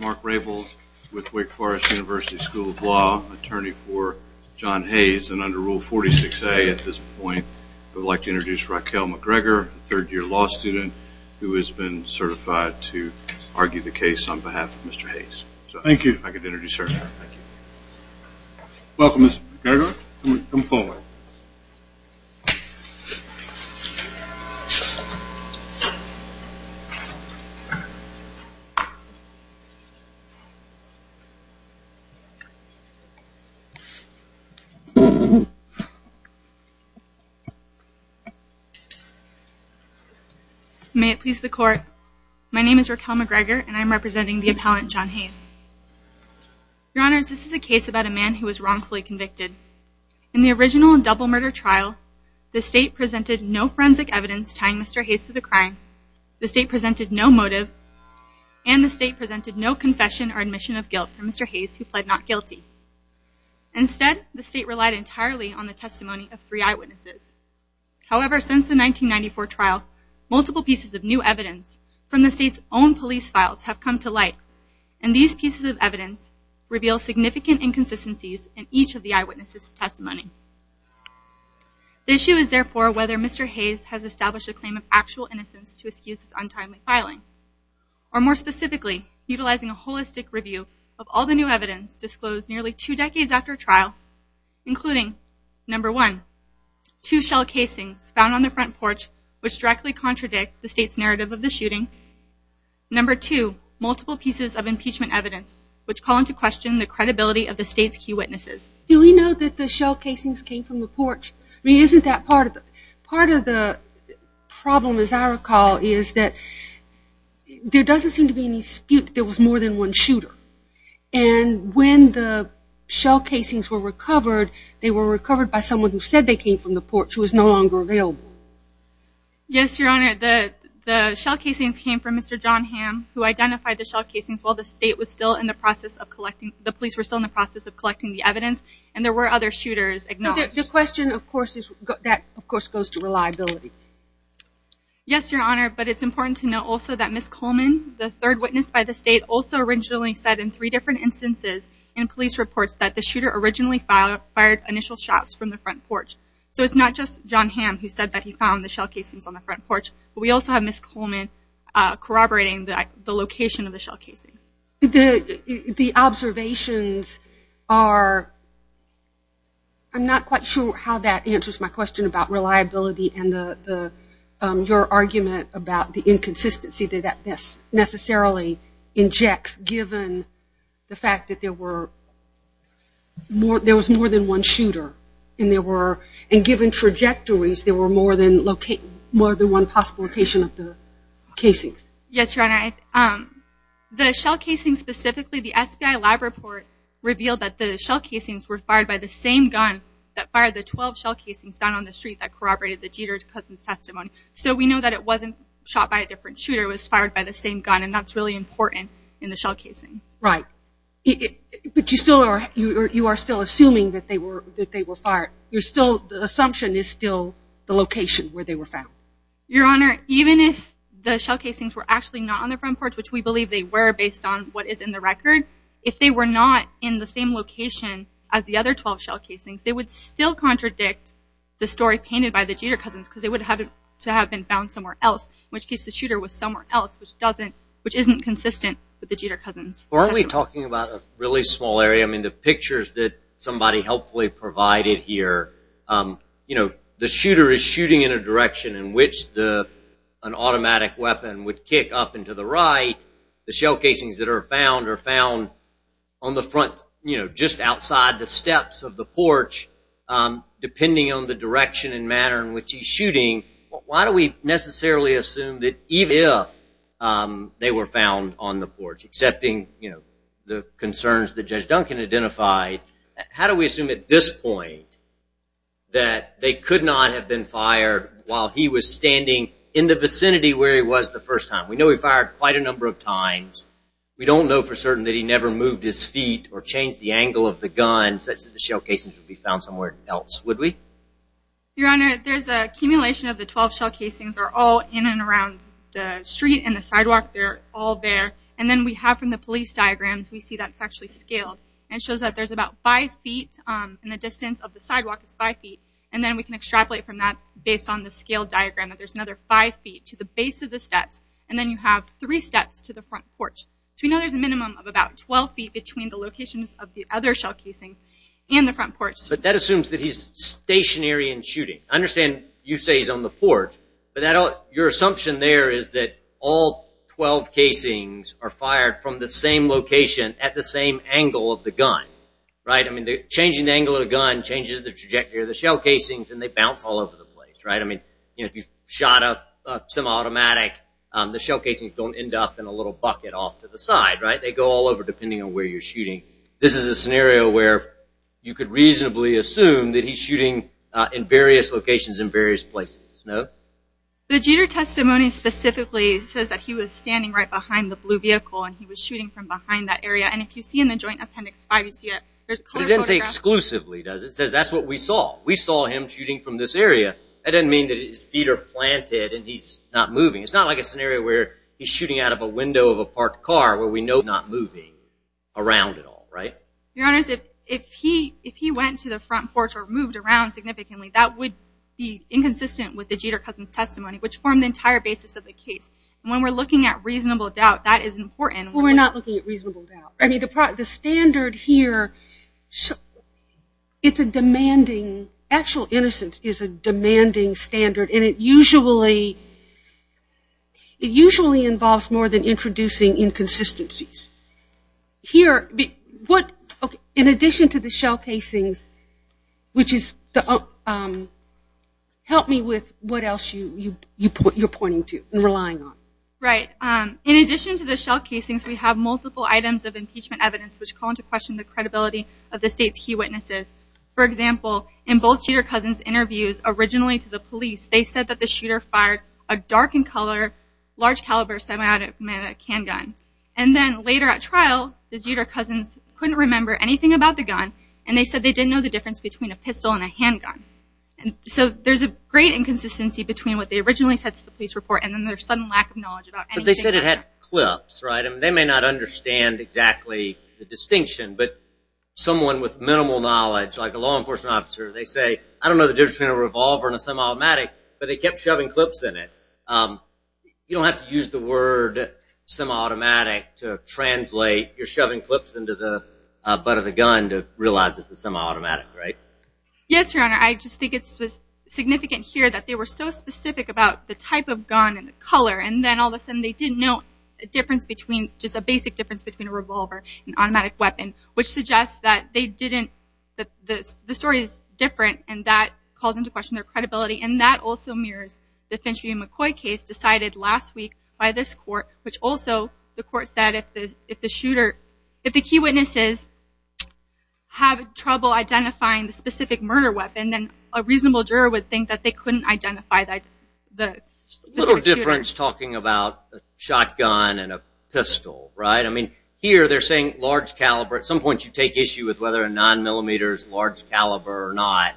Mark Raybould, Wake Forest University School of Law Attorney for John Hayes Under Rule 46A, I would like to introduce Raquel McGregor, a third year law student who has been certified to argue the case on behalf of Mr. Hayes. So thank you, I can introduce her. Welcome Ms. McGregor, come forward. May it please the court, my name is Raquel McGregor and I am representing the appellant John Hayes. Your honors, this is a case about a man who was wrongfully convicted. In the original double murder trial, the state presented no forensic evidence tying Mr. Hayes to the crime, the state presented no motive, and the state presented no confession or admission of guilt for Mr. Hayes who pled not guilty. Instead, the state relied entirely on the testimony of three eyewitnesses. However, since the 1994 trial, multiple pieces of new evidence from the state's own police files have come to light, and these pieces of evidence reveal significant inconsistencies in each of the eyewitnesses' testimony. The issue is therefore whether Mr. Hayes has established a claim of actual innocence to of all the new evidence disclosed nearly two decades after trial, including number one, two shell casings found on the front porch which directly contradict the state's narrative of the shooting, number two, multiple pieces of impeachment evidence which call into question the credibility of the state's key witnesses. Do we know that the shell casings came from the porch? I mean, isn't that part of it? Part of the problem, as I recall, is that there doesn't seem to be any dispute that there was more than one shooter, and when the shell casings were recovered, they were recovered by someone who said they came from the porch who is no longer available. Yes, Your Honor. The shell casings came from Mr. John Hamm who identified the shell casings while the state was still in the process of collecting, the police were still in the process of collecting the evidence, and there were other shooters acknowledged. The question, of course, is, that, of course, goes to reliability. Yes, Your Honor, but it's important to know also that Ms. Coleman, the third witness by the state, also originally said in three different instances in police reports that the shooter originally fired initial shots from the front porch. So it's not just John Hamm who said that he found the shell casings on the front porch, but we also have Ms. Coleman corroborating the location of the shell casings. The observations are, I'm not quite sure how that answers my question about reliability and your argument about the inconsistency that that necessarily injects given the fact that there was more than one shooter, and given trajectories, there were more than one possible location of the casings. Yes, Your Honor. The shell casings specifically, the FBI lab report revealed that the shell casings were So we know that it wasn't shot by a different shooter. It was fired by the same gun, and that's really important in the shell casings. Right. But you are still assuming that they were fired. The assumption is still the location where they were found. Your Honor, even if the shell casings were actually not on the front porch, which we believe they were based on what is in the record, if they were not in the same location as the other 12 shell casings, they would still contradict the story painted by the Jeter Cousins, because they would have to have been found somewhere else, in which case the shooter was somewhere else, which isn't consistent with the Jeter Cousins testimony. Aren't we talking about a really small area? I mean, the pictures that somebody helpfully provided here, you know, the shooter is shooting in a direction in which an automatic weapon would kick up and to the right. The shell casings that are found are found on the front, you know, just outside the steps of the porch, depending on the direction and manner in which he's shooting. Why do we necessarily assume that even if they were found on the porch, accepting, you know, the concerns that Judge Duncan identified, how do we assume at this point that they could not have been fired while he was standing in the vicinity where he was the first time? We know he fired quite a number of times. We don't know for certain that he never moved his feet or changed the angle of the gun such that the shell casings would be found somewhere else. Would we? Your Honor, there's accumulation of the 12 shell casings are all in and around the street and the sidewalk. They're all there. And then we have from the police diagrams, we see that's actually scaled. And it shows that there's about 5 feet, and the distance of the sidewalk is 5 feet. And then we can extrapolate from that based on the scale diagram that there's another 5 feet to the base of the steps, and then you have 3 steps to the front porch. So we know there's a minimum of about 12 feet between the locations of the other shell casings and the front porch. But that assumes that he's stationary and shooting. I understand you say he's on the porch, but your assumption there is that all 12 casings are fired from the same location at the same angle of the gun, right? I mean, changing the angle of the gun changes the trajectory of the shell casings, and they bounce all over the place, right? I mean, if you shot a semi-automatic, the shell casings don't end up in a little bucket off to the side, right? They go all over depending on where you're shooting. This is a scenario where you could reasonably assume that he's shooting in various locations in various places, no? The Jeter testimony specifically says that he was standing right behind the blue vehicle and he was shooting from behind that area. And if you see in the Joint Appendix 5, you see that there's color photographs. It doesn't say exclusively, does it? It says that's what we saw. We saw him shooting from this area. That doesn't mean that his feet are planted and he's not moving. It's not like a scenario where he's shooting out of a window of a parked car where we know that he's not moving around at all, right? Your Honor, if he went to the front porch or moved around significantly, that would be inconsistent with the Jeter cousin's testimony, which formed the entire basis of the case. And when we're looking at reasonable doubt, that is important. Well, we're not looking at reasonable doubt. I mean, the standard here, it's a demanding, actual innocence is a demanding standard, and it usually involves more than introducing inconsistencies. Here, in addition to the shell casings, which is, help me with what else you're pointing to and relying on. Right. In addition to the shell casings, we have multiple items of impeachment evidence which call into question the credibility of the State's key witnesses. For example, in both Jeter cousins' interviews originally to the police, they said that the shooter fired a dark in color, large caliber semi-automatic handgun. And then later at trial, the Jeter cousins couldn't remember anything about the gun, and they said they didn't know the difference between a pistol and a handgun. So there's a great inconsistency between what they originally said to the police report and then their sudden lack of knowledge about anything like that. But they said it had clips, right? They may not understand exactly the distinction, but someone with minimal knowledge, like a law enforcement officer, they say, I don't know the difference between a revolver and a semi-automatic, but they kept shoving clips in it. You don't have to use the word semi-automatic to translate your shoving clips into the butt of the gun to realize this is semi-automatic, right? Yes, Your Honor. I just think it's significant here that they were so specific about the type of gun and color, and then all of a sudden they didn't know a difference between, just a basic difference between a revolver and automatic weapon, which suggests that they didn't, that the story is different, and that calls into question their credibility. And that also mirrors the Finch v. McCoy case decided last week by this court, which also, the court said, if the shooter, if the key witnesses have trouble identifying the specific murder weapon, then a reasonable juror would think that they couldn't identify the shooter. A little difference talking about a shotgun and a pistol, right? I mean, here they're saying large caliber. At some point you take issue with whether a 9mm is large caliber or not.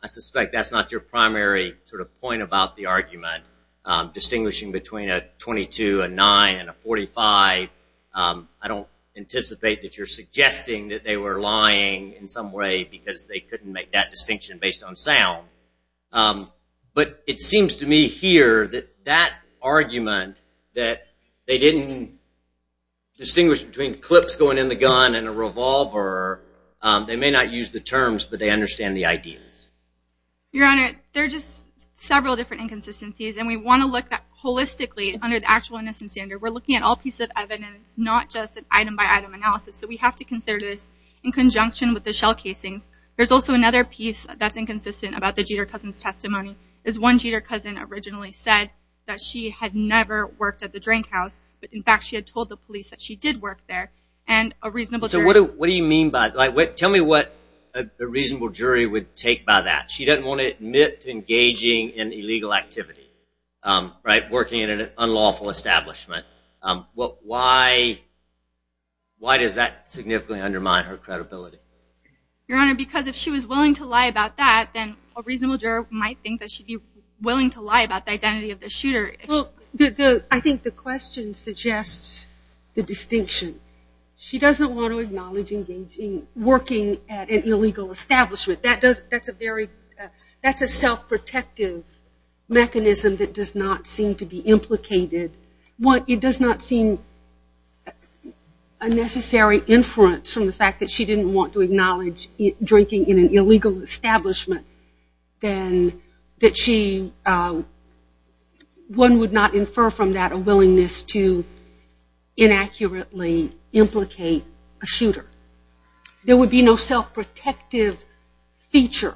I suspect that's not your primary sort of point about the argument, distinguishing between a .22, a .9, and a .45. I don't anticipate that you're suggesting that they were lying in some way because they couldn't make that distinction based on sound. But it seems to me here that that argument that they didn't distinguish between clips going in the gun and a revolver, they may not use the terms, but they understand the ideas. Your Honor, there are just several different inconsistencies, and we want to look at that holistically under the actual innocence standard. We're looking at all pieces of evidence, not just an item-by-item analysis. So we have to consider this in conjunction with the shell casings. There's also another piece that's inconsistent about the Jeter cousin's testimony, is one Jeter cousin originally said that she had never worked at the drink house, but in fact she had told the police that she did work there. So what do you mean by that? Tell me what a reasonable jury would take by that. She doesn't want to admit to engaging in illegal activity, working in an unlawful establishment. Why does that significantly undermine her credibility? Your Honor, because if she was willing to lie about that, then a reasonable jury might think that she'd be willing to lie about the identity of the shooter. Well, I think the question suggests the distinction. She doesn't want to acknowledge engaging, working at an illegal establishment. That's a self-protective mechanism that does not seem to be implicated. It does not seem a necessary inference from the fact that she didn't want to acknowledge drinking in an illegal establishment, then one would not infer from that a willingness to inaccurately implicate a shooter. There would be no self-protective feature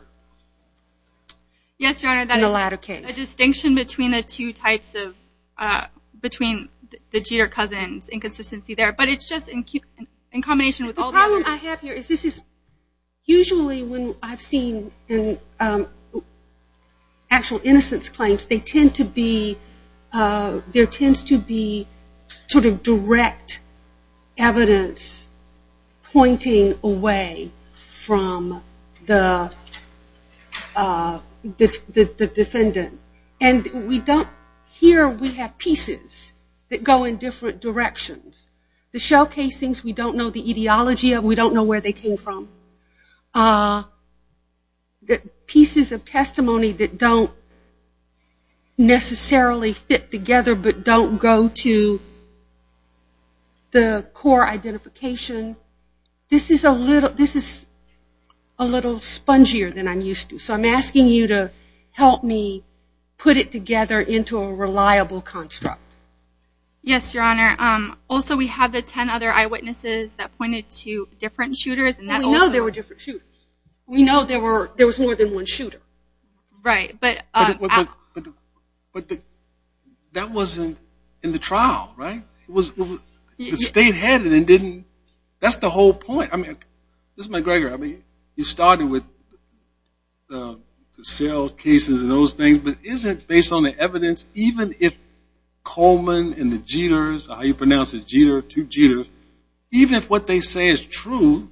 in the latter case. A distinction between the two types of, between the Jeter-Cousins inconsistency there, but it's just in combination with all the other... The problem I have here is this is usually when I've seen actual innocence claims, they tend to be, there tends to be sort of direct evidence pointing away from the defendant. And we don't, here we have pieces that go in different directions. The shell casings we don't know the etiology of, we don't know where they came from. Pieces of testimony that don't necessarily fit together but don't go to the core identification. This is a little, this is a little spongier than I'm used to. So I'm asking you to help me put it together into a reliable construct. Yes, Your Honor. Also we have the ten other eyewitnesses that pointed to different shooters. We know there were different shooters. We know there were, there was more than one shooter. Right, but... But that wasn't in the trial, right? It was, it stayed headed and didn't, that's the whole point. I mean, this is Mike Greger. I mean, he started with the sales cases and those things, but isn't based on the evidence, even if Coleman and the Jeters, how you pronounce it, Jeter, two Jeters, even if what they say is true,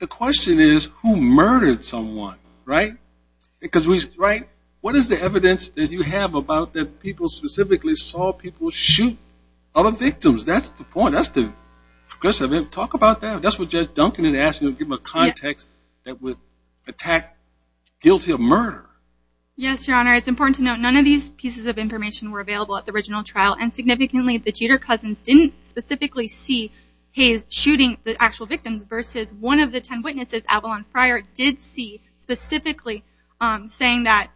the question is who murdered someone, right? Because we, right? What is the evidence that you have about that people specifically saw people shoot other victims? That's the point. That's the question. Talk about that. That's what Judge Duncan is asking, give him a context that would attack guilty of murder. Yes, Your Honor. It's important to note none of these pieces of information were available at the original trial and significantly the Jeter cousins didn't specifically see Hayes shooting the actual victims versus one of the ten witnesses, Avalon Fryer, did see specifically saying that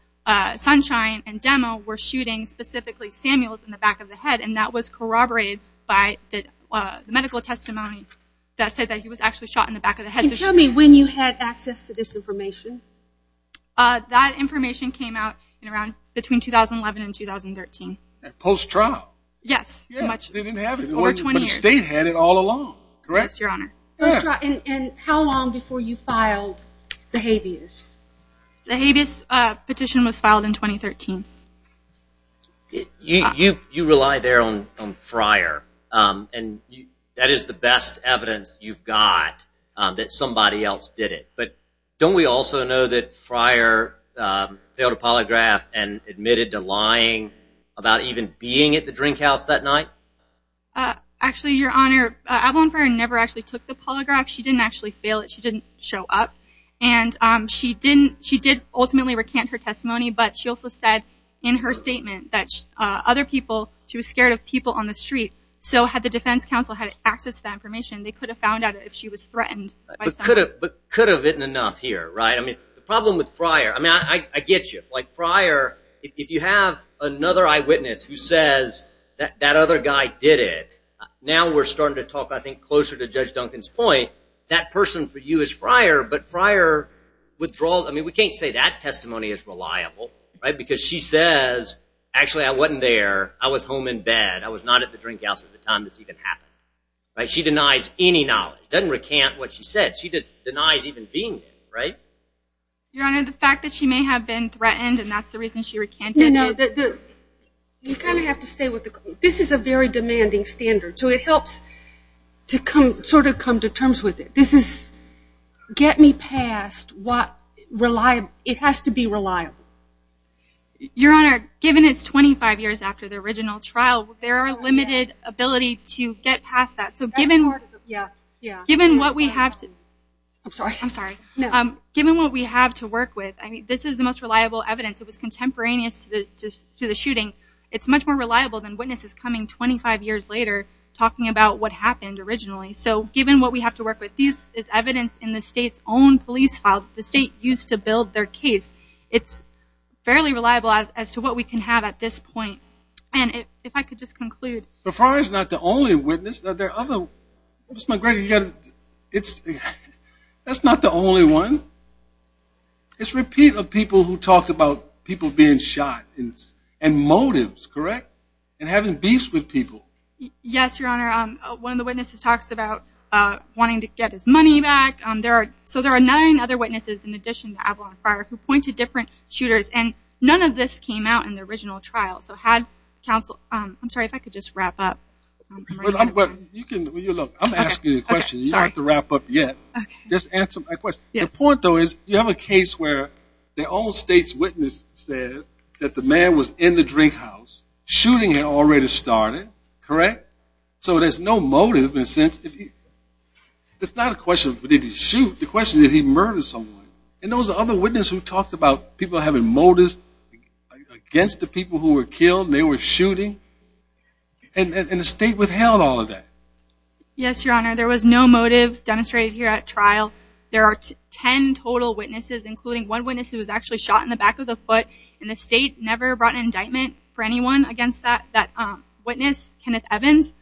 Sunshine and Demo were shooting specifically Samuels in the back of the head and that was corroborated by the medical testimony that said that he was actually shot in the back of the head. Can you tell me when you had access to this information? That information came out in around, between 2011 and 2013. Post trial? Yes. They didn't have it for over 20 years. But the state had it all along, correct? Yes, Your Honor. And how long before you filed the habeas? The habeas petition was filed in 2013. You rely there on Fryer and that is the best evidence you've got that somebody else did it. But don't we also know that Fryer failed a polygraph and admitted to lying about even being at the drink house that night? Actually, Your Honor, Avalon Fryer never actually took the polygraph. She didn't actually fail it. She didn't show up. And she did ultimately recant her testimony, but she also said in her statement that other people, she was scared of people on the street. So had the defense counsel had access to that information, they could have found out if she was threatened. But could have been enough here, right? I mean, the problem with Fryer, I mean, I get you. Like Fryer, if you have another eyewitness who says that that other guy did it, now we're starting to talk, I think, closer to Judge Duncan's point, that person for you is Fryer. But Fryer withdraws. I mean, we can't say that testimony is reliable because she says, actually, I wasn't there. I was home in bed. I was not at the drink house at the time this even happened. She denies any knowledge. She doesn't recant what she said. She denies even being there, right? Your Honor, the fact that she may have been threatened and that's the reason she recanted it. You kind of have to stay with the court. This is a very demanding standard, so it helps to sort of come to terms with it. This is get me past what reliable, it has to be reliable. Your Honor, given it's 25 years after the original trial, there are limited ability to get past that. So given what we have to work with, this is the most reliable evidence. It was contemporaneous to the shooting. It's much more reliable than witnesses coming 25 years later talking about what happened originally. So given what we have to work with, this is evidence in the state's own police file, the state used to build their case. It's fairly reliable as to what we can have at this point. And if I could just conclude. The fire is not the only witness. There are other witnesses. That's not the only one. It's a repeat of people who talk about people being shot and motives, correct? And having beefs with people. Yes, Your Honor. One of the witnesses talks about wanting to get his money back. So there are nine other witnesses in addition to Avalon Fire who pointed different shooters, and none of this came out in the original trial. I'm sorry, if I could just wrap up. I'm asking you a question. You don't have to wrap up yet. Just answer my question. The point, though, is you have a case where the all-states witness said that the man was in the drink house. Shooting had already started, correct? So there's no motive. It's not a question of did he shoot. The question is did he murder someone. And those other witnesses who talked about people having motives against the people who were killed, they were shooting, and the state withheld all of that. Yes, Your Honor. There was no motive demonstrated here at trial. There are ten total witnesses, including one witness who was actually shot in the back of the foot, and the state never brought an indictment for anyone against that witness, Kenneth Evans.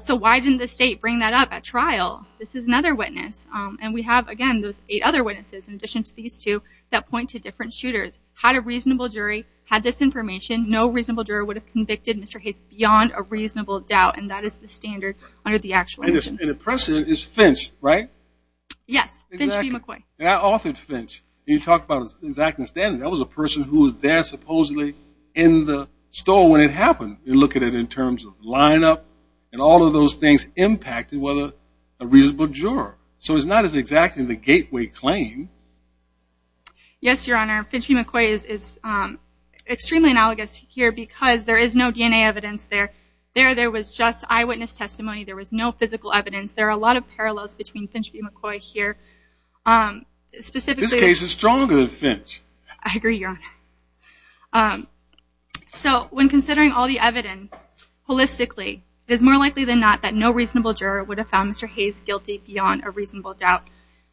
So why didn't the state bring that up at trial? This is another witness. And we have, again, those eight other witnesses in addition to these two that point to different shooters. Had a reasonable jury, had this information, no reasonable juror would have convicted Mr. Hayes beyond a reasonable doubt, and that is the standard under the actual instance. And the precedent is Finch, right? Yes, Finch v. McCoy. Authored Finch. You talk about an exacting standard. That was a person who was there supposedly in the store when it happened. You look at it in terms of lineup and all of those things impacted whether a reasonable juror. So it's not as exacting the gateway claim. Yes, Your Honor. Finch v. McCoy is extremely analogous here because there is no DNA evidence there. There was just eyewitness testimony. There was no physical evidence. There are a lot of parallels between Finch v. McCoy here. This case is stronger than Finch. I agree, Your Honor. So when considering all the evidence holistically, it is more likely than not that no reasonable juror would have found Mr. Hayes guilty beyond a reasonable doubt.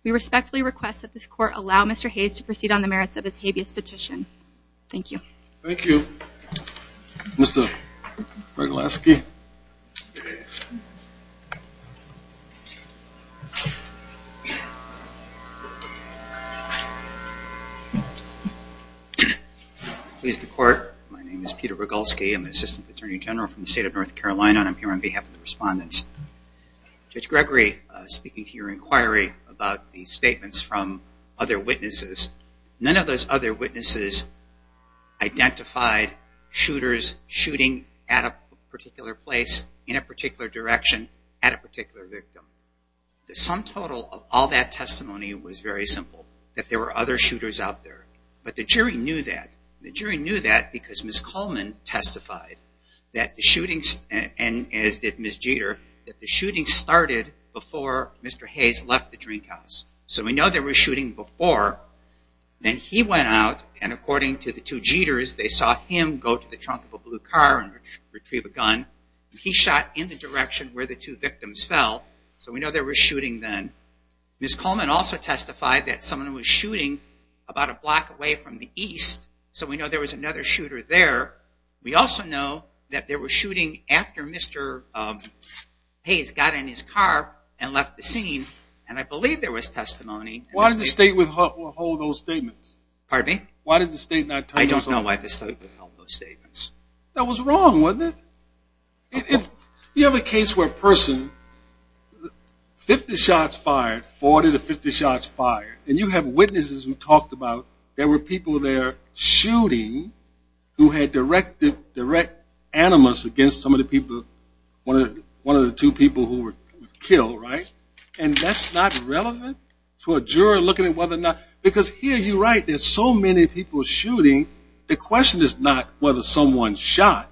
We respectfully request that this Court allow Mr. Hayes to proceed on the merits of his habeas petition. Thank you. Thank you. Mr. Breglaski. Please, the Court. My name is Peter Breglaski. I'm an Assistant Attorney General from the state of North Carolina, and I'm here on behalf of the respondents. Judge Gregory, speaking to your inquiry about the statements from other witnesses, none of those other witnesses identified shooters shooting at a particular place, in a particular direction, at a particular victim. The sum total of all that testimony was very simple, that there were other shooters out there. But the jury knew that. The jury knew that because Ms. Coleman testified that the shootings, and as did Ms. Jeter, that the shootings started before Mr. Hayes left the drink house. So we know there was shooting before. Then he went out, and according to the two Jeters, they saw him go to the trunk of a blue car and retrieve a gun. He shot in the direction where the two victims fell. So we know there was shooting then. Ms. Coleman also testified that someone was shooting about a block away from the east, so we know there was another shooter there. We also know that there was shooting after Mr. Hayes got in his car and left the scene, and I believe there was testimony. Why did the state withhold those statements? Pardon me? Why did the state not turn those over? I don't know why the state withheld those statements. That was wrong, wasn't it? You have a case where a person, 50 shots fired, 40 to 50 shots fired, and you have witnesses who talked about there were people there shooting who had direct animus against some of the people, one of the two people who were killed, right? And that's not relevant to a juror looking at whether or not – because here you're right, there's so many people shooting, the question is not whether someone shot.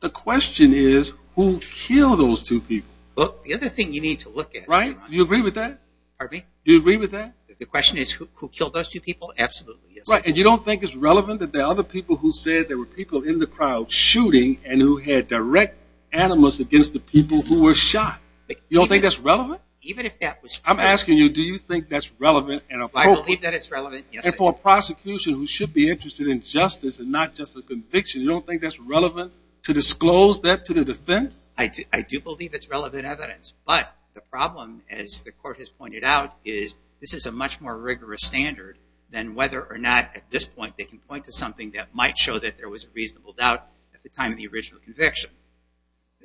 The question is who killed those two people. The other thing you need to look at. Do you agree with that? Pardon me? Do you agree with that? The question is who killed those two people? Absolutely, yes. And you don't think it's relevant that there are other people who said there were people in the crowd shooting and who had direct animus against the people who were shot? You don't think that's relevant? Even if that was true. I'm asking you, do you think that's relevant and appropriate? I believe that it's relevant, yes. And for a prosecution who should be interested in justice and not just a conviction, you don't think that's relevant to disclose that to the defense? I do believe it's relevant evidence. But the problem, as the court has pointed out, is this is a much more rigorous standard than whether or not at this point they can point to something that might show that there was a reasonable doubt at the time of the original conviction.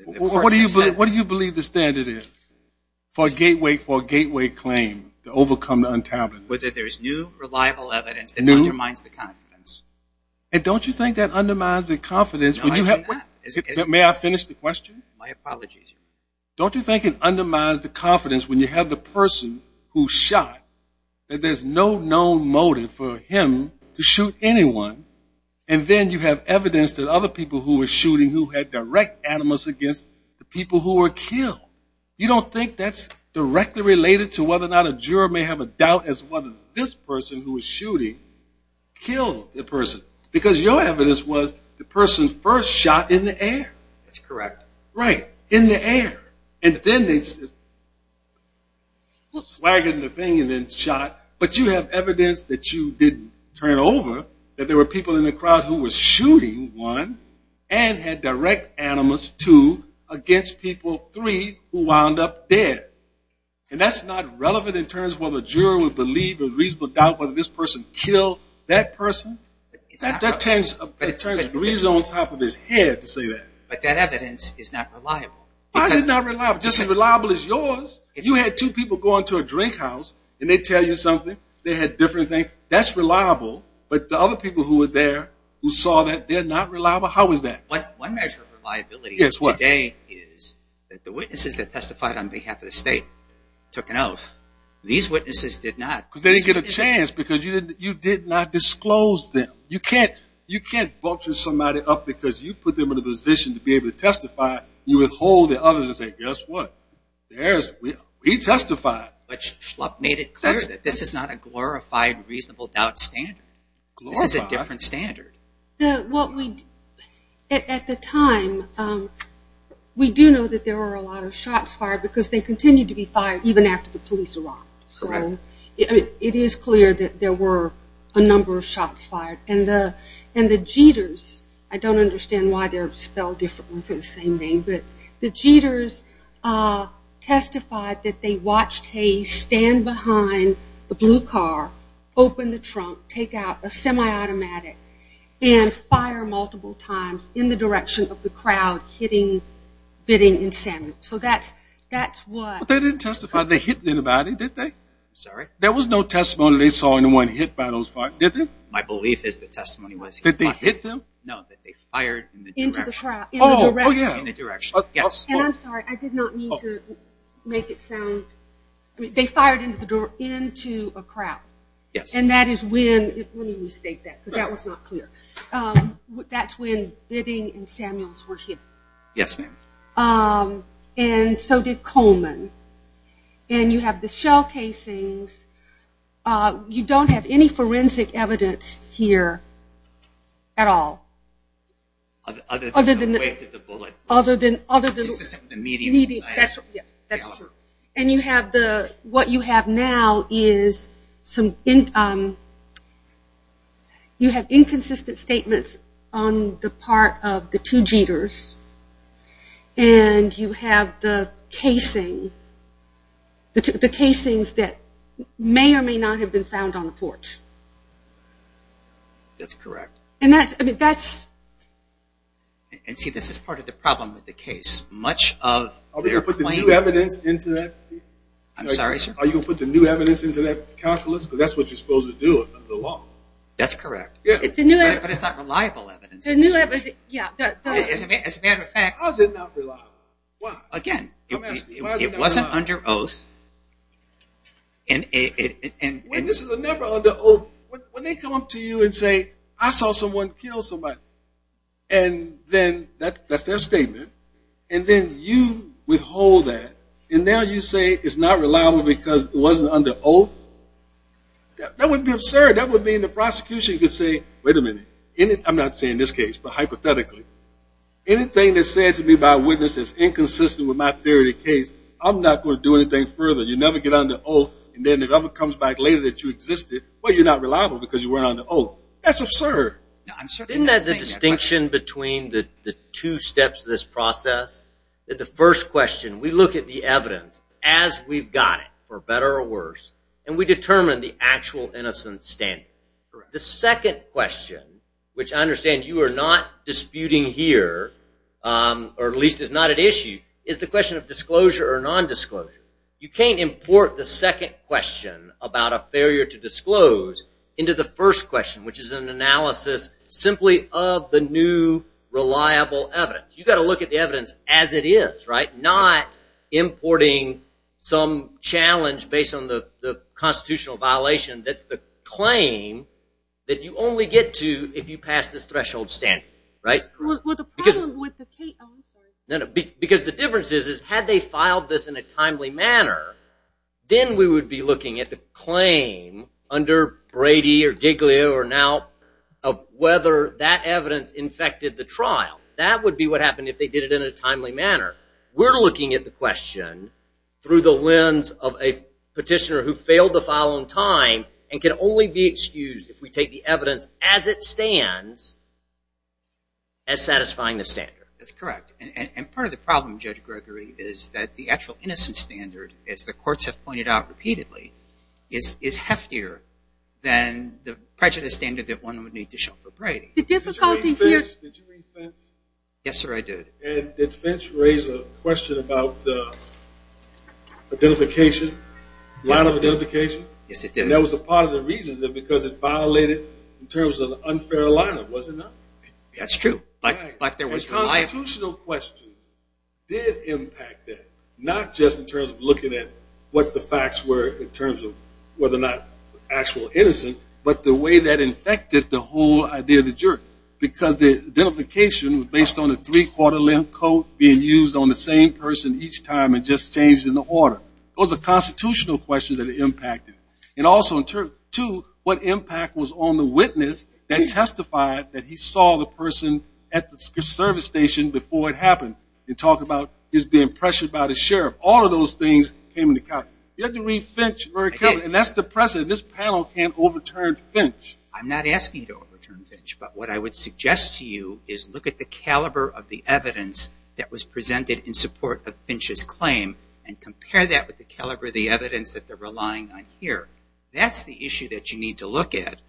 What do you believe the standard is for a gateway claim to overcome the untabbed? Whether there's new, reliable evidence that undermines the confidence. And don't you think that undermines the confidence? May I finish the question? My apologies. Don't you think it undermines the confidence when you have the person who shot, that there's no known motive for him to shoot anyone, and then you have evidence that other people who were shooting who had direct animus against the people who were killed? You don't think that's directly related to whether or not a juror may have a doubt as to whether this person who was shooting killed the person? Because your evidence was the person first shot in the air. That's correct. Right, in the air. And then they swaggered the thing and then shot. But you have evidence that you didn't turn over, that there were people in the crowd who were shooting, one, and had direct animus, two, against people, three, who wound up dead. And that's not relevant in terms of whether a juror would believe a reasonable doubt whether this person killed that person? That turns a breeze on top of his head to say that. But that evidence is not reliable. Why is it not reliable? Just as reliable as yours. If you had two people go into a drink house and they tell you something, they had a different thing, that's reliable. But the other people who were there who saw that, they're not reliable? How is that? One measure of reliability today is that the witnesses that testified on behalf of the state took an oath. These witnesses did not. Because they didn't get a chance because you did not disclose them. You can't vulture somebody up because you put them in a position to be able to testify. You withhold the others and say, guess what, we testified. But Schlupp made it clear that this is not a glorified reasonable doubt standard. This is a different standard. At the time, we do know that there were a lot of shots fired because they continued to be fired even after the police arrived. So it is clear that there were a number of shots fired. And the jeeters, I don't understand why they're spelled differently for the same name, but the jeeters testified that they watched Hayes stand behind the blue car, open the trunk, take out a semi-automatic, and fire multiple times in the direction of the crowd hitting, bidding, and salmon. So that's what they did. But they didn't testify that they hit anybody, did they? I'm sorry? There was no testimony they saw anyone hit by those cars, did there? My belief is the testimony was hit by them. That they hit them? No, that they fired in the direction. Into the crowd. Oh, yeah. In the direction. Yes. And I'm sorry, I did not mean to make it sound. They fired into a crowd. Yes. And that is when, let me restate that because that was not clear. That's when bidding and Samuels were hit. Yes, ma'am. And so did Coleman. And you have the shell casings. You don't have any forensic evidence here at all. Other than the weight of the bullet. Other than the medium. Yes, that's true. And you have the, what you have now is some, you have inconsistent statements on the part of the two Jeters. And you have the casing, the casings that may or may not have been found on the porch. That's correct. And that's, I mean, that's. And see, this is part of the problem with the case. Are you going to put the new evidence into that? I'm sorry, sir? Are you going to put the new evidence into that calculus? Because that's what you're supposed to do under the law. That's correct. But it's not reliable evidence. The new evidence, yeah. As a matter of fact. How is it not reliable? Again, it wasn't under oath. And this is never under oath. When they come up to you and say, I saw someone kill somebody. And then that's their statement. And then you withhold that. And now you say it's not reliable because it wasn't under oath? That would be absurd. That would mean the prosecution could say, wait a minute. I'm not saying this case, but hypothetically. Anything that's said to me by a witness is inconsistent with my theory of the case. I'm not going to do anything further. You never get under oath. And then if it ever comes back later that you existed, well, you're not reliable because you weren't under oath. That's absurd. Isn't that the distinction between the two steps of this process? That the first question, we look at the evidence as we've got it, for better or worse, and we determine the actual innocence standard. The second question, which I understand you are not disputing here, or at least is not at issue, is the question of disclosure or nondisclosure. You can't import the second question about a failure to disclose into the first question, which is an analysis simply of the new reliable evidence. You've got to look at the evidence as it is, right, not importing some challenge based on the constitutional violation that's the claim that you only get to if you pass this threshold standard, right? Well, the problem with the case – oh, I'm sorry. No, no, because the difference is, is had they filed this in a timely manner, then we would be looking at the claim under Brady or Giglio or now of whether that evidence infected the trial. That would be what happened if they did it in a timely manner. We're looking at the question through the lens of a petitioner who failed to file on time and can only be excused if we take the evidence as it stands as satisfying the standard. That's correct, and part of the problem, Judge Gregory, is that the actual innocence standard, as the courts have pointed out repeatedly, is heftier than the prejudice standard that one would need to show for Brady. Did you read Finch? Yes, sir, I did. And did Finch raise a question about identification, line of identification? Yes, it did. And that was a part of the reason because it violated in terms of unfair alignment, was it not? That's true. And constitutional questions did impact that, not just in terms of looking at what the facts were in terms of whether or not actual innocence, but the way that infected the whole idea of the jury because the identification was based on a three-quarter length code being used on the same person each time and just changed in the order. Those are constitutional questions that impacted. And also, two, what impact was on the witness that testified that he saw the person at the service station before it happened? You talk about his being pressured by the sheriff. All of those things came into account. You have to read Finch very carefully, and that's the precedent. This panel can't overturn Finch. I'm not asking you to overturn Finch, but what I would suggest to you is look at the caliber of the evidence that was presented in support of Finch's claim and compare that with the caliber of the evidence that they're relying on here. That's the issue that you need to look at.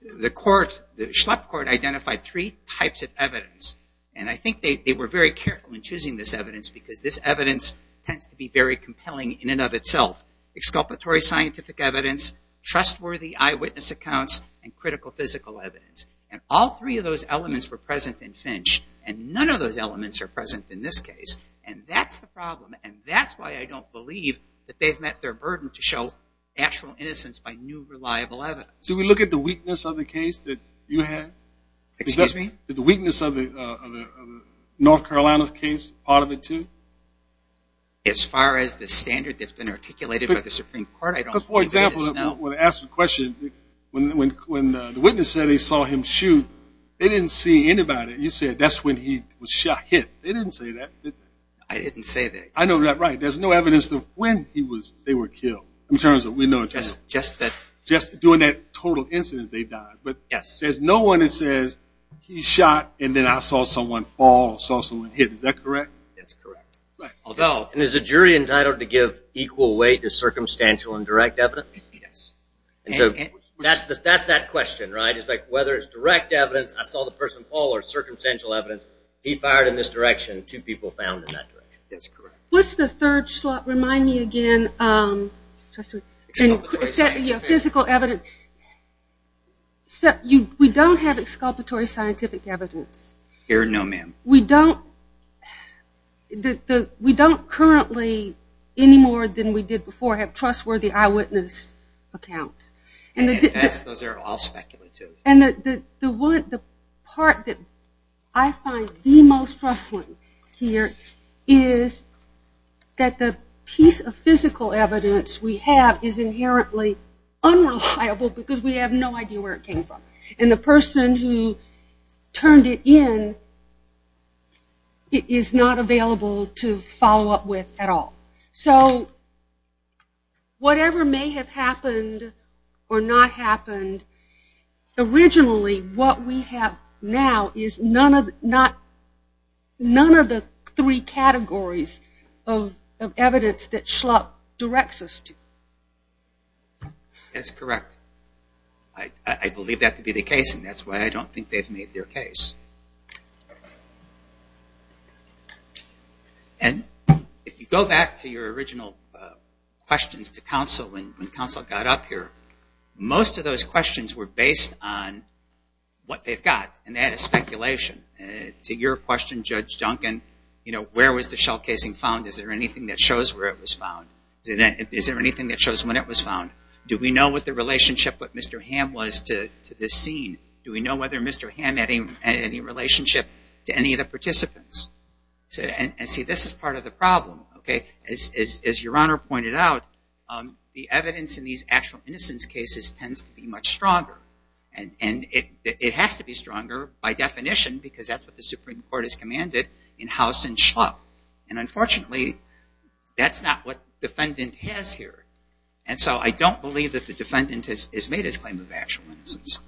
The court, the Schlepp court, identified three types of evidence, and I think they were very careful in choosing this evidence because this evidence tends to be very compelling in and of itself. Exculpatory scientific evidence, trustworthy eyewitness accounts, and critical physical evidence. And all three of those elements were present in Finch, and none of those elements are present in this case. And that's the problem, and that's why I don't believe that they've met their burden to show actual innocence by new, reliable evidence. Do we look at the weakness of the case that you had? Excuse me? Is the weakness of North Carolina's case part of it, too? As far as the standard that's been articulated by the Supreme Court, I don't think they did so. For example, when I asked the question, when the witness said they saw him shoot, they didn't see anybody. You said that's when he was shot, hit. They didn't say that. I didn't say that. I know that right. There's no evidence of when they were killed in terms of we know. Just doing that total incident, they died. But there's no one that says he shot and then I saw someone fall or saw someone hit. Is that correct? That's correct. And is the jury entitled to give equal weight to circumstantial and direct evidence? Yes. And so that's that question, right? It's like whether it's direct evidence, I saw the person fall, or circumstantial evidence, he fired in this direction, two people found in that direction. That's correct. What's the third slot? Remind me again. Physical evidence. We don't have exculpatory scientific evidence. No, ma'am. We don't currently, any more than we did before, have trustworthy eyewitness accounts. Yes, those are all speculative. And the part that I find the most trustworthy here is that the piece of physical evidence we have is inherently unreliable because we have no idea where it came from. And the person who turned it in is not available to follow up with at all. So whatever may have happened or not happened, originally what we have now is none of the three categories of evidence that Schlupp directs us to. That's correct. I believe that to be the case, and that's why I don't think they've made their case. And if you go back to your original questions to counsel, when counsel got up here, most of those questions were based on what they've got, and they had a speculation. To your question, Judge Duncan, where was the shell casing found? Is there anything that shows where it was found? Is there anything that shows when it was found? Do we know what the relationship with Mr. Hamm was to this scene? Do we know whether Mr. Hamm had any relationship to any of the participants? And, see, this is part of the problem. As Your Honor pointed out, the evidence in these actual innocence cases tends to be much stronger. And it has to be stronger by definition because that's what the Supreme Court has commanded in House and Schlupp. And, unfortunately, that's not what the defendant has here. And so I don't believe that the defendant has made his claim of actual innocence.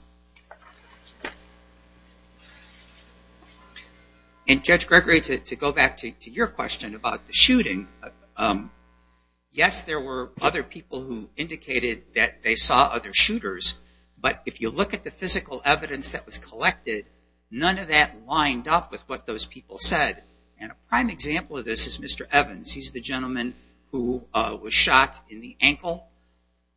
And, Judge Gregory, to go back to your question about the shooting, yes, there were other people who indicated that they saw other shooters, but if you look at the physical evidence that was collected, none of that lined up with what those people said. And a prime example of this is Mr. Evans. He's the gentleman who was shot in the ankle.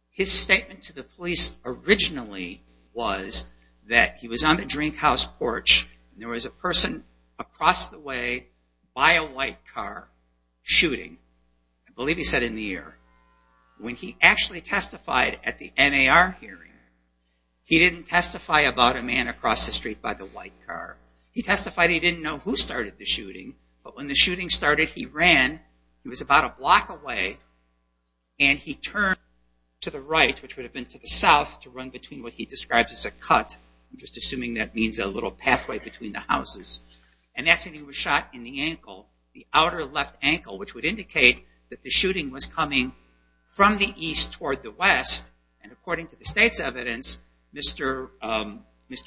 His statement to the police originally was that he was on the drink house porch and there was a person across the way by a white car shooting. I believe he said in the air. When he actually testified at the NAR hearing, he didn't testify about a man across the street by the white car. He testified he didn't know who started the shooting, but when the shooting started, he ran. He was about a block away and he turned to the right, which would have been to the south, to run between what he describes as a cut. I'm just assuming that means a little pathway between the houses. And that's when he was shot in the ankle, the outer left ankle, which would indicate that the shooting was coming from the east toward the west. And according to the state's evidence, Mr.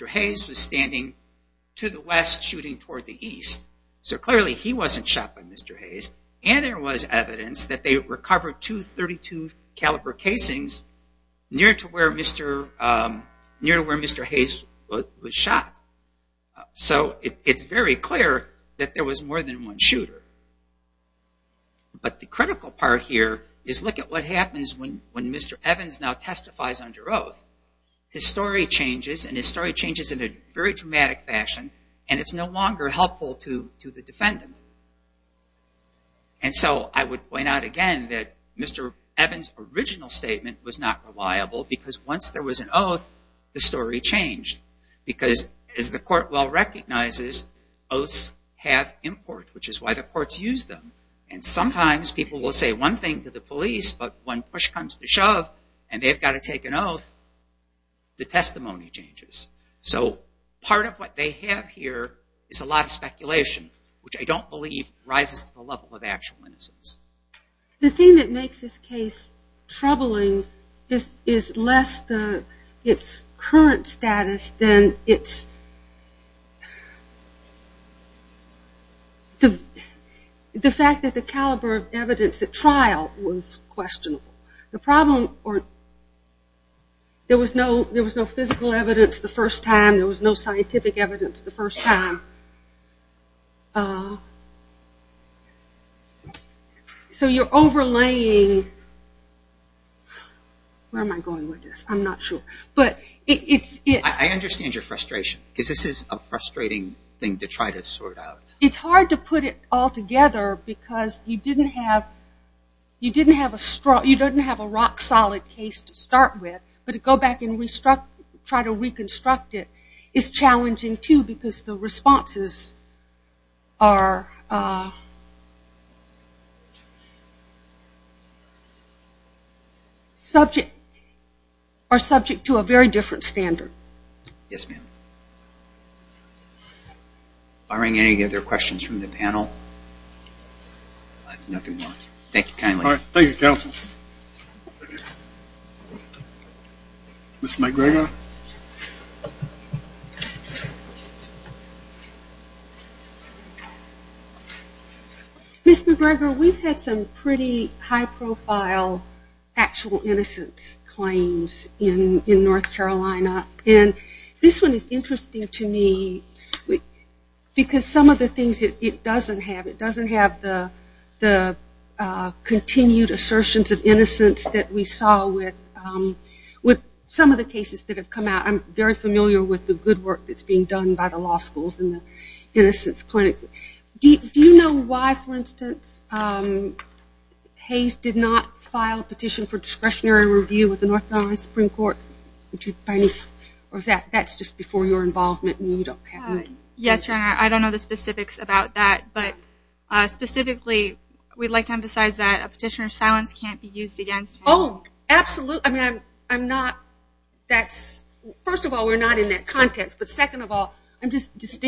Hayes was standing to the west shooting toward the east. So clearly he wasn't shot by Mr. Hayes. And there was evidence that they recovered two .32 caliber casings near to where Mr. Hayes was shot. So it's very clear that there was more than one shooter. But the critical part here is look at what happens when Mr. Evans now testifies under oath. His story changes and his story changes in a very dramatic fashion and it's no longer helpful to the defendant. And so I would point out again that Mr. Evans' original statement was not reliable because once there was an oath, the story changed. Because as the court well recognizes, oaths have import, which is why the courts use them. And sometimes people will say one thing to the police, but when push comes to shove and they've got to take an oath, the testimony changes. So part of what they have here is a lot of speculation, which I don't believe rises to the level of actual innocence. The thing that makes this case troubling is less its current status than the fact that the caliber of evidence at trial was questionable. There was no physical evidence the first time. There was no scientific evidence the first time. So you're overlaying, where am I going with this? I'm not sure. I understand your frustration because this is a frustrating thing to try to sort out. It's hard to put it all together because you didn't have a strong, you didn't have a rock-solid case to start with, but to go back and try to reconstruct it is challenging too because the responses are subject to a very different standard. Yes, ma'am. Are there any other questions from the panel? Nothing. Thank you kindly. Thank you, counsel. Ms. McGregor? Ms. McGregor, we've had some pretty high-profile actual innocence claims in North Carolina, and this one is interesting to me because some of the things it doesn't have. It doesn't have the continued assertions of innocence that we saw with some of the cases that have come out. I'm very familiar with the good work that's being done by the law schools and the innocence clinics. Hayes did not file a petition for discretionary review with the North Carolina Supreme Court. That's just before your involvement. Yes, Your Honor. I don't know the specifics about that, but specifically we'd like to emphasize that a petitioner's silence can't be used against him. Oh, absolutely. I mean, first of all, we're not in that context, but second of all, I'm just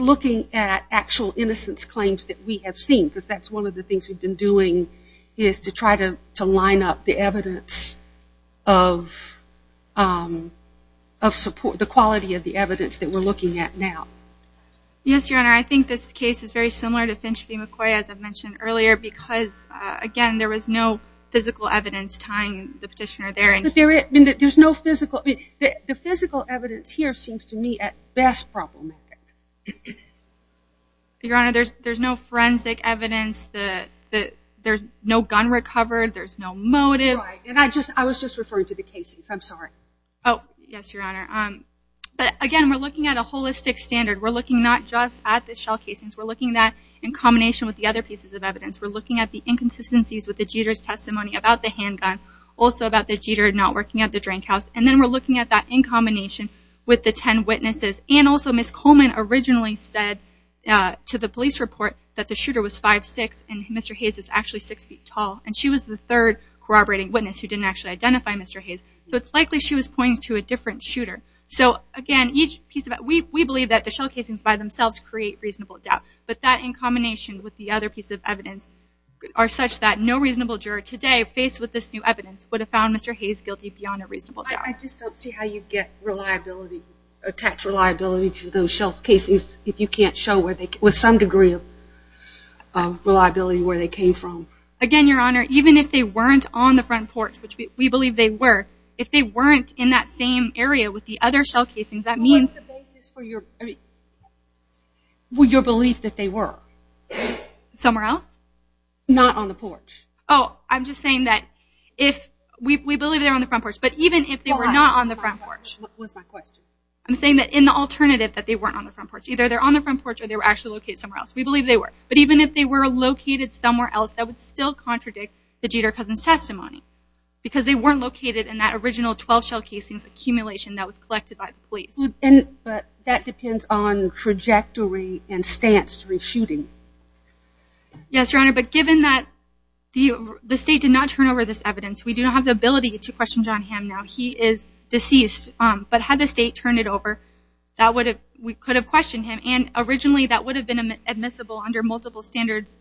looking at actual innocence claims that we have seen because that's one of the things we've been doing is to try to line up the evidence of support, the quality of the evidence that we're looking at now. Yes, Your Honor. I think this case is very similar to Finch v. McCoy, as I mentioned earlier, because, again, there was no physical evidence tying the petitioner there. The physical evidence here seems to me at best problematic. Your Honor, there's no forensic evidence. There's no gun recovered. There's no motive. Right, and I was just referring to the casings. I'm sorry. Oh, yes, Your Honor. But, again, we're looking at a holistic standard. We're looking not just at the shell casings. We're looking at that in combination with the other pieces of evidence. We're looking at the inconsistencies with the Jeter's testimony about the handgun, also about the Jeter not working at the drink house, and then we're looking at that in combination with the ten witnesses, and also Ms. Coleman originally said to the police report that the shooter was 5'6", and Mr. Hayes is actually 6 feet tall, and she was the third corroborating witness who didn't actually identify Mr. Hayes, so it's likely she was pointing to a different shooter. So, again, we believe that the shell casings by themselves create reasonable doubt, but that in combination with the other pieces of evidence are such that no reasonable juror today faced with this new evidence would have found Mr. Hayes guilty beyond a reasonable doubt. I just don't see how you'd attach reliability to those shell casings if you can't show with some degree of reliability where they came from. Again, Your Honor, even if they weren't on the front porch, which we believe they were, if they weren't in that same area with the other shell casings, that means... What's the basis for your belief that they were? Somewhere else? Not on the porch. Oh, I'm just saying that we believe they were on the front porch, but even if they were not on the front porch... What was my question? I'm saying that in the alternative that they weren't on the front porch, either they were on the front porch or they were actually located somewhere else. We believe they were. But even if they were located somewhere else, that would still contradict the Jeter Cousin's testimony because they weren't located in that original 12 shell casings accumulation that was collected by the police. But that depends on trajectory and stance to the shooting. Yes, Your Honor, but given that the state did not turn over this evidence, we do not have the ability to question John Hamm now. He is deceased. But had the state turned it over, we could have questioned him. And originally that would have been admissible under multiple standards,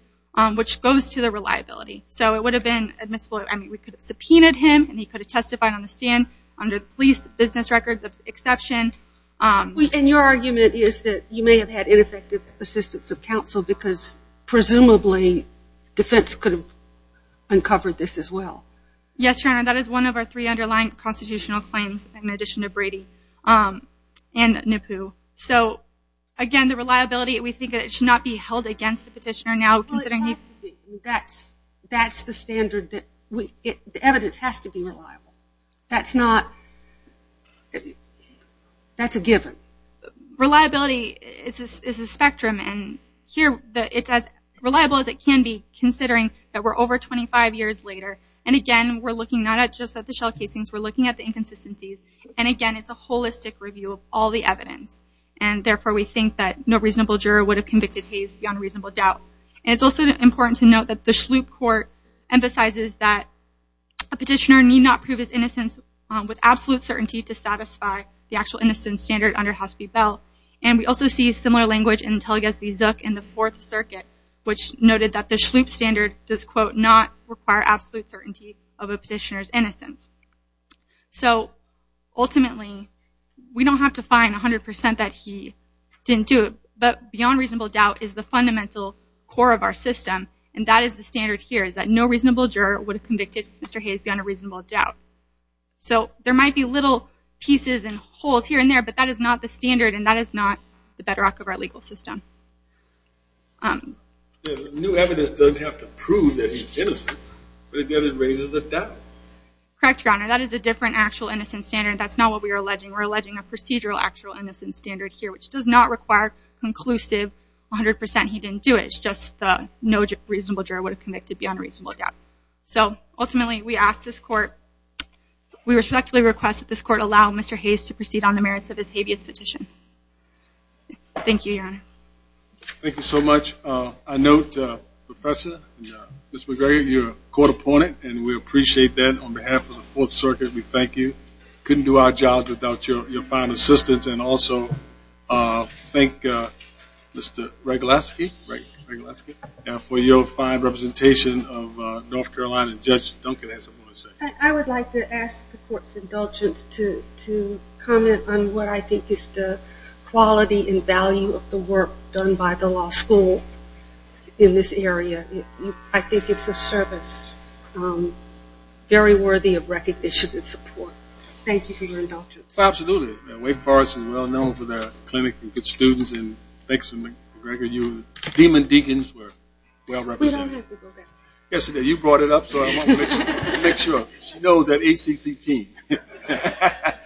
which goes to the reliability. So it would have been admissible. I mean, we could have subpoenaed him and he could have testified on the stand under police business records of exception. And your argument is that you may have had ineffective assistance of counsel because presumably defense could have uncovered this as well. Yes, Your Honor, that is one of our three underlying constitutional claims in addition to Brady and Nippu. So, again, the reliability, we think it should not be held against the petitioner now. That's the standard. The evidence has to be reliable. That's a given. Reliability is a spectrum. And here it's as reliable as it can be, considering that we're over 25 years later. And, again, we're looking not just at the shell casings. We're looking at the inconsistencies. And, again, it's a holistic review of all the evidence. And, therefore, we think that no reasonable juror would have convicted Hayes beyond reasonable doubt. And it's also important to note that the Schlup Court emphasizes that a petitioner need not prove his innocence with absolute certainty to satisfy the actual innocence standard under Hasseby Bell. And we also see similar language in Telgesby Zook in the Fourth Circuit, which noted that the Schlup standard does, quote, not require absolute certainty of a petitioner's innocence. So, ultimately, we don't have to find 100% that he didn't do it. But beyond reasonable doubt is the fundamental core of our system. And that is the standard here, is that no reasonable juror would have convicted Mr. Hayes beyond a reasonable doubt. So there might be little pieces and holes here and there, but that is not the standard and that is not the bedrock of our legal system. The new evidence doesn't have to prove that he's innocent, but it raises a doubt. Correct, Your Honor. That is a different actual innocence standard. That's not what we are alleging. We're alleging a procedural actual innocence standard here, which does not require conclusive 100% he didn't do it. It's just no reasonable juror would have convicted beyond reasonable doubt. So, ultimately, we respectfully request that this court allow Mr. Hayes to proceed on the merits of his habeas petition. Thank you, Your Honor. Thank you so much. I note, Professor and Ms. McGregor, you're a court opponent, and we appreciate that. On behalf of the Fourth Circuit, we thank you. Couldn't do our job without your fine assistance. And also thank Mr. Regulasky for your fine representation of North Carolina. Judge Duncan has something to say. I would like to ask the court's indulgence to comment on what I think is the quality and value of the work done by the law school in this area. I think it's a service very worthy of recognition and support. Thank you for your indulgence. Well, absolutely. Wake Forest is well known for their clinic and good students, and thanks to McGregor, you and the Demon Deacons were well represented. We don't have to go back. Yesterday you brought it up, so I want to make sure. She knows that ACC team.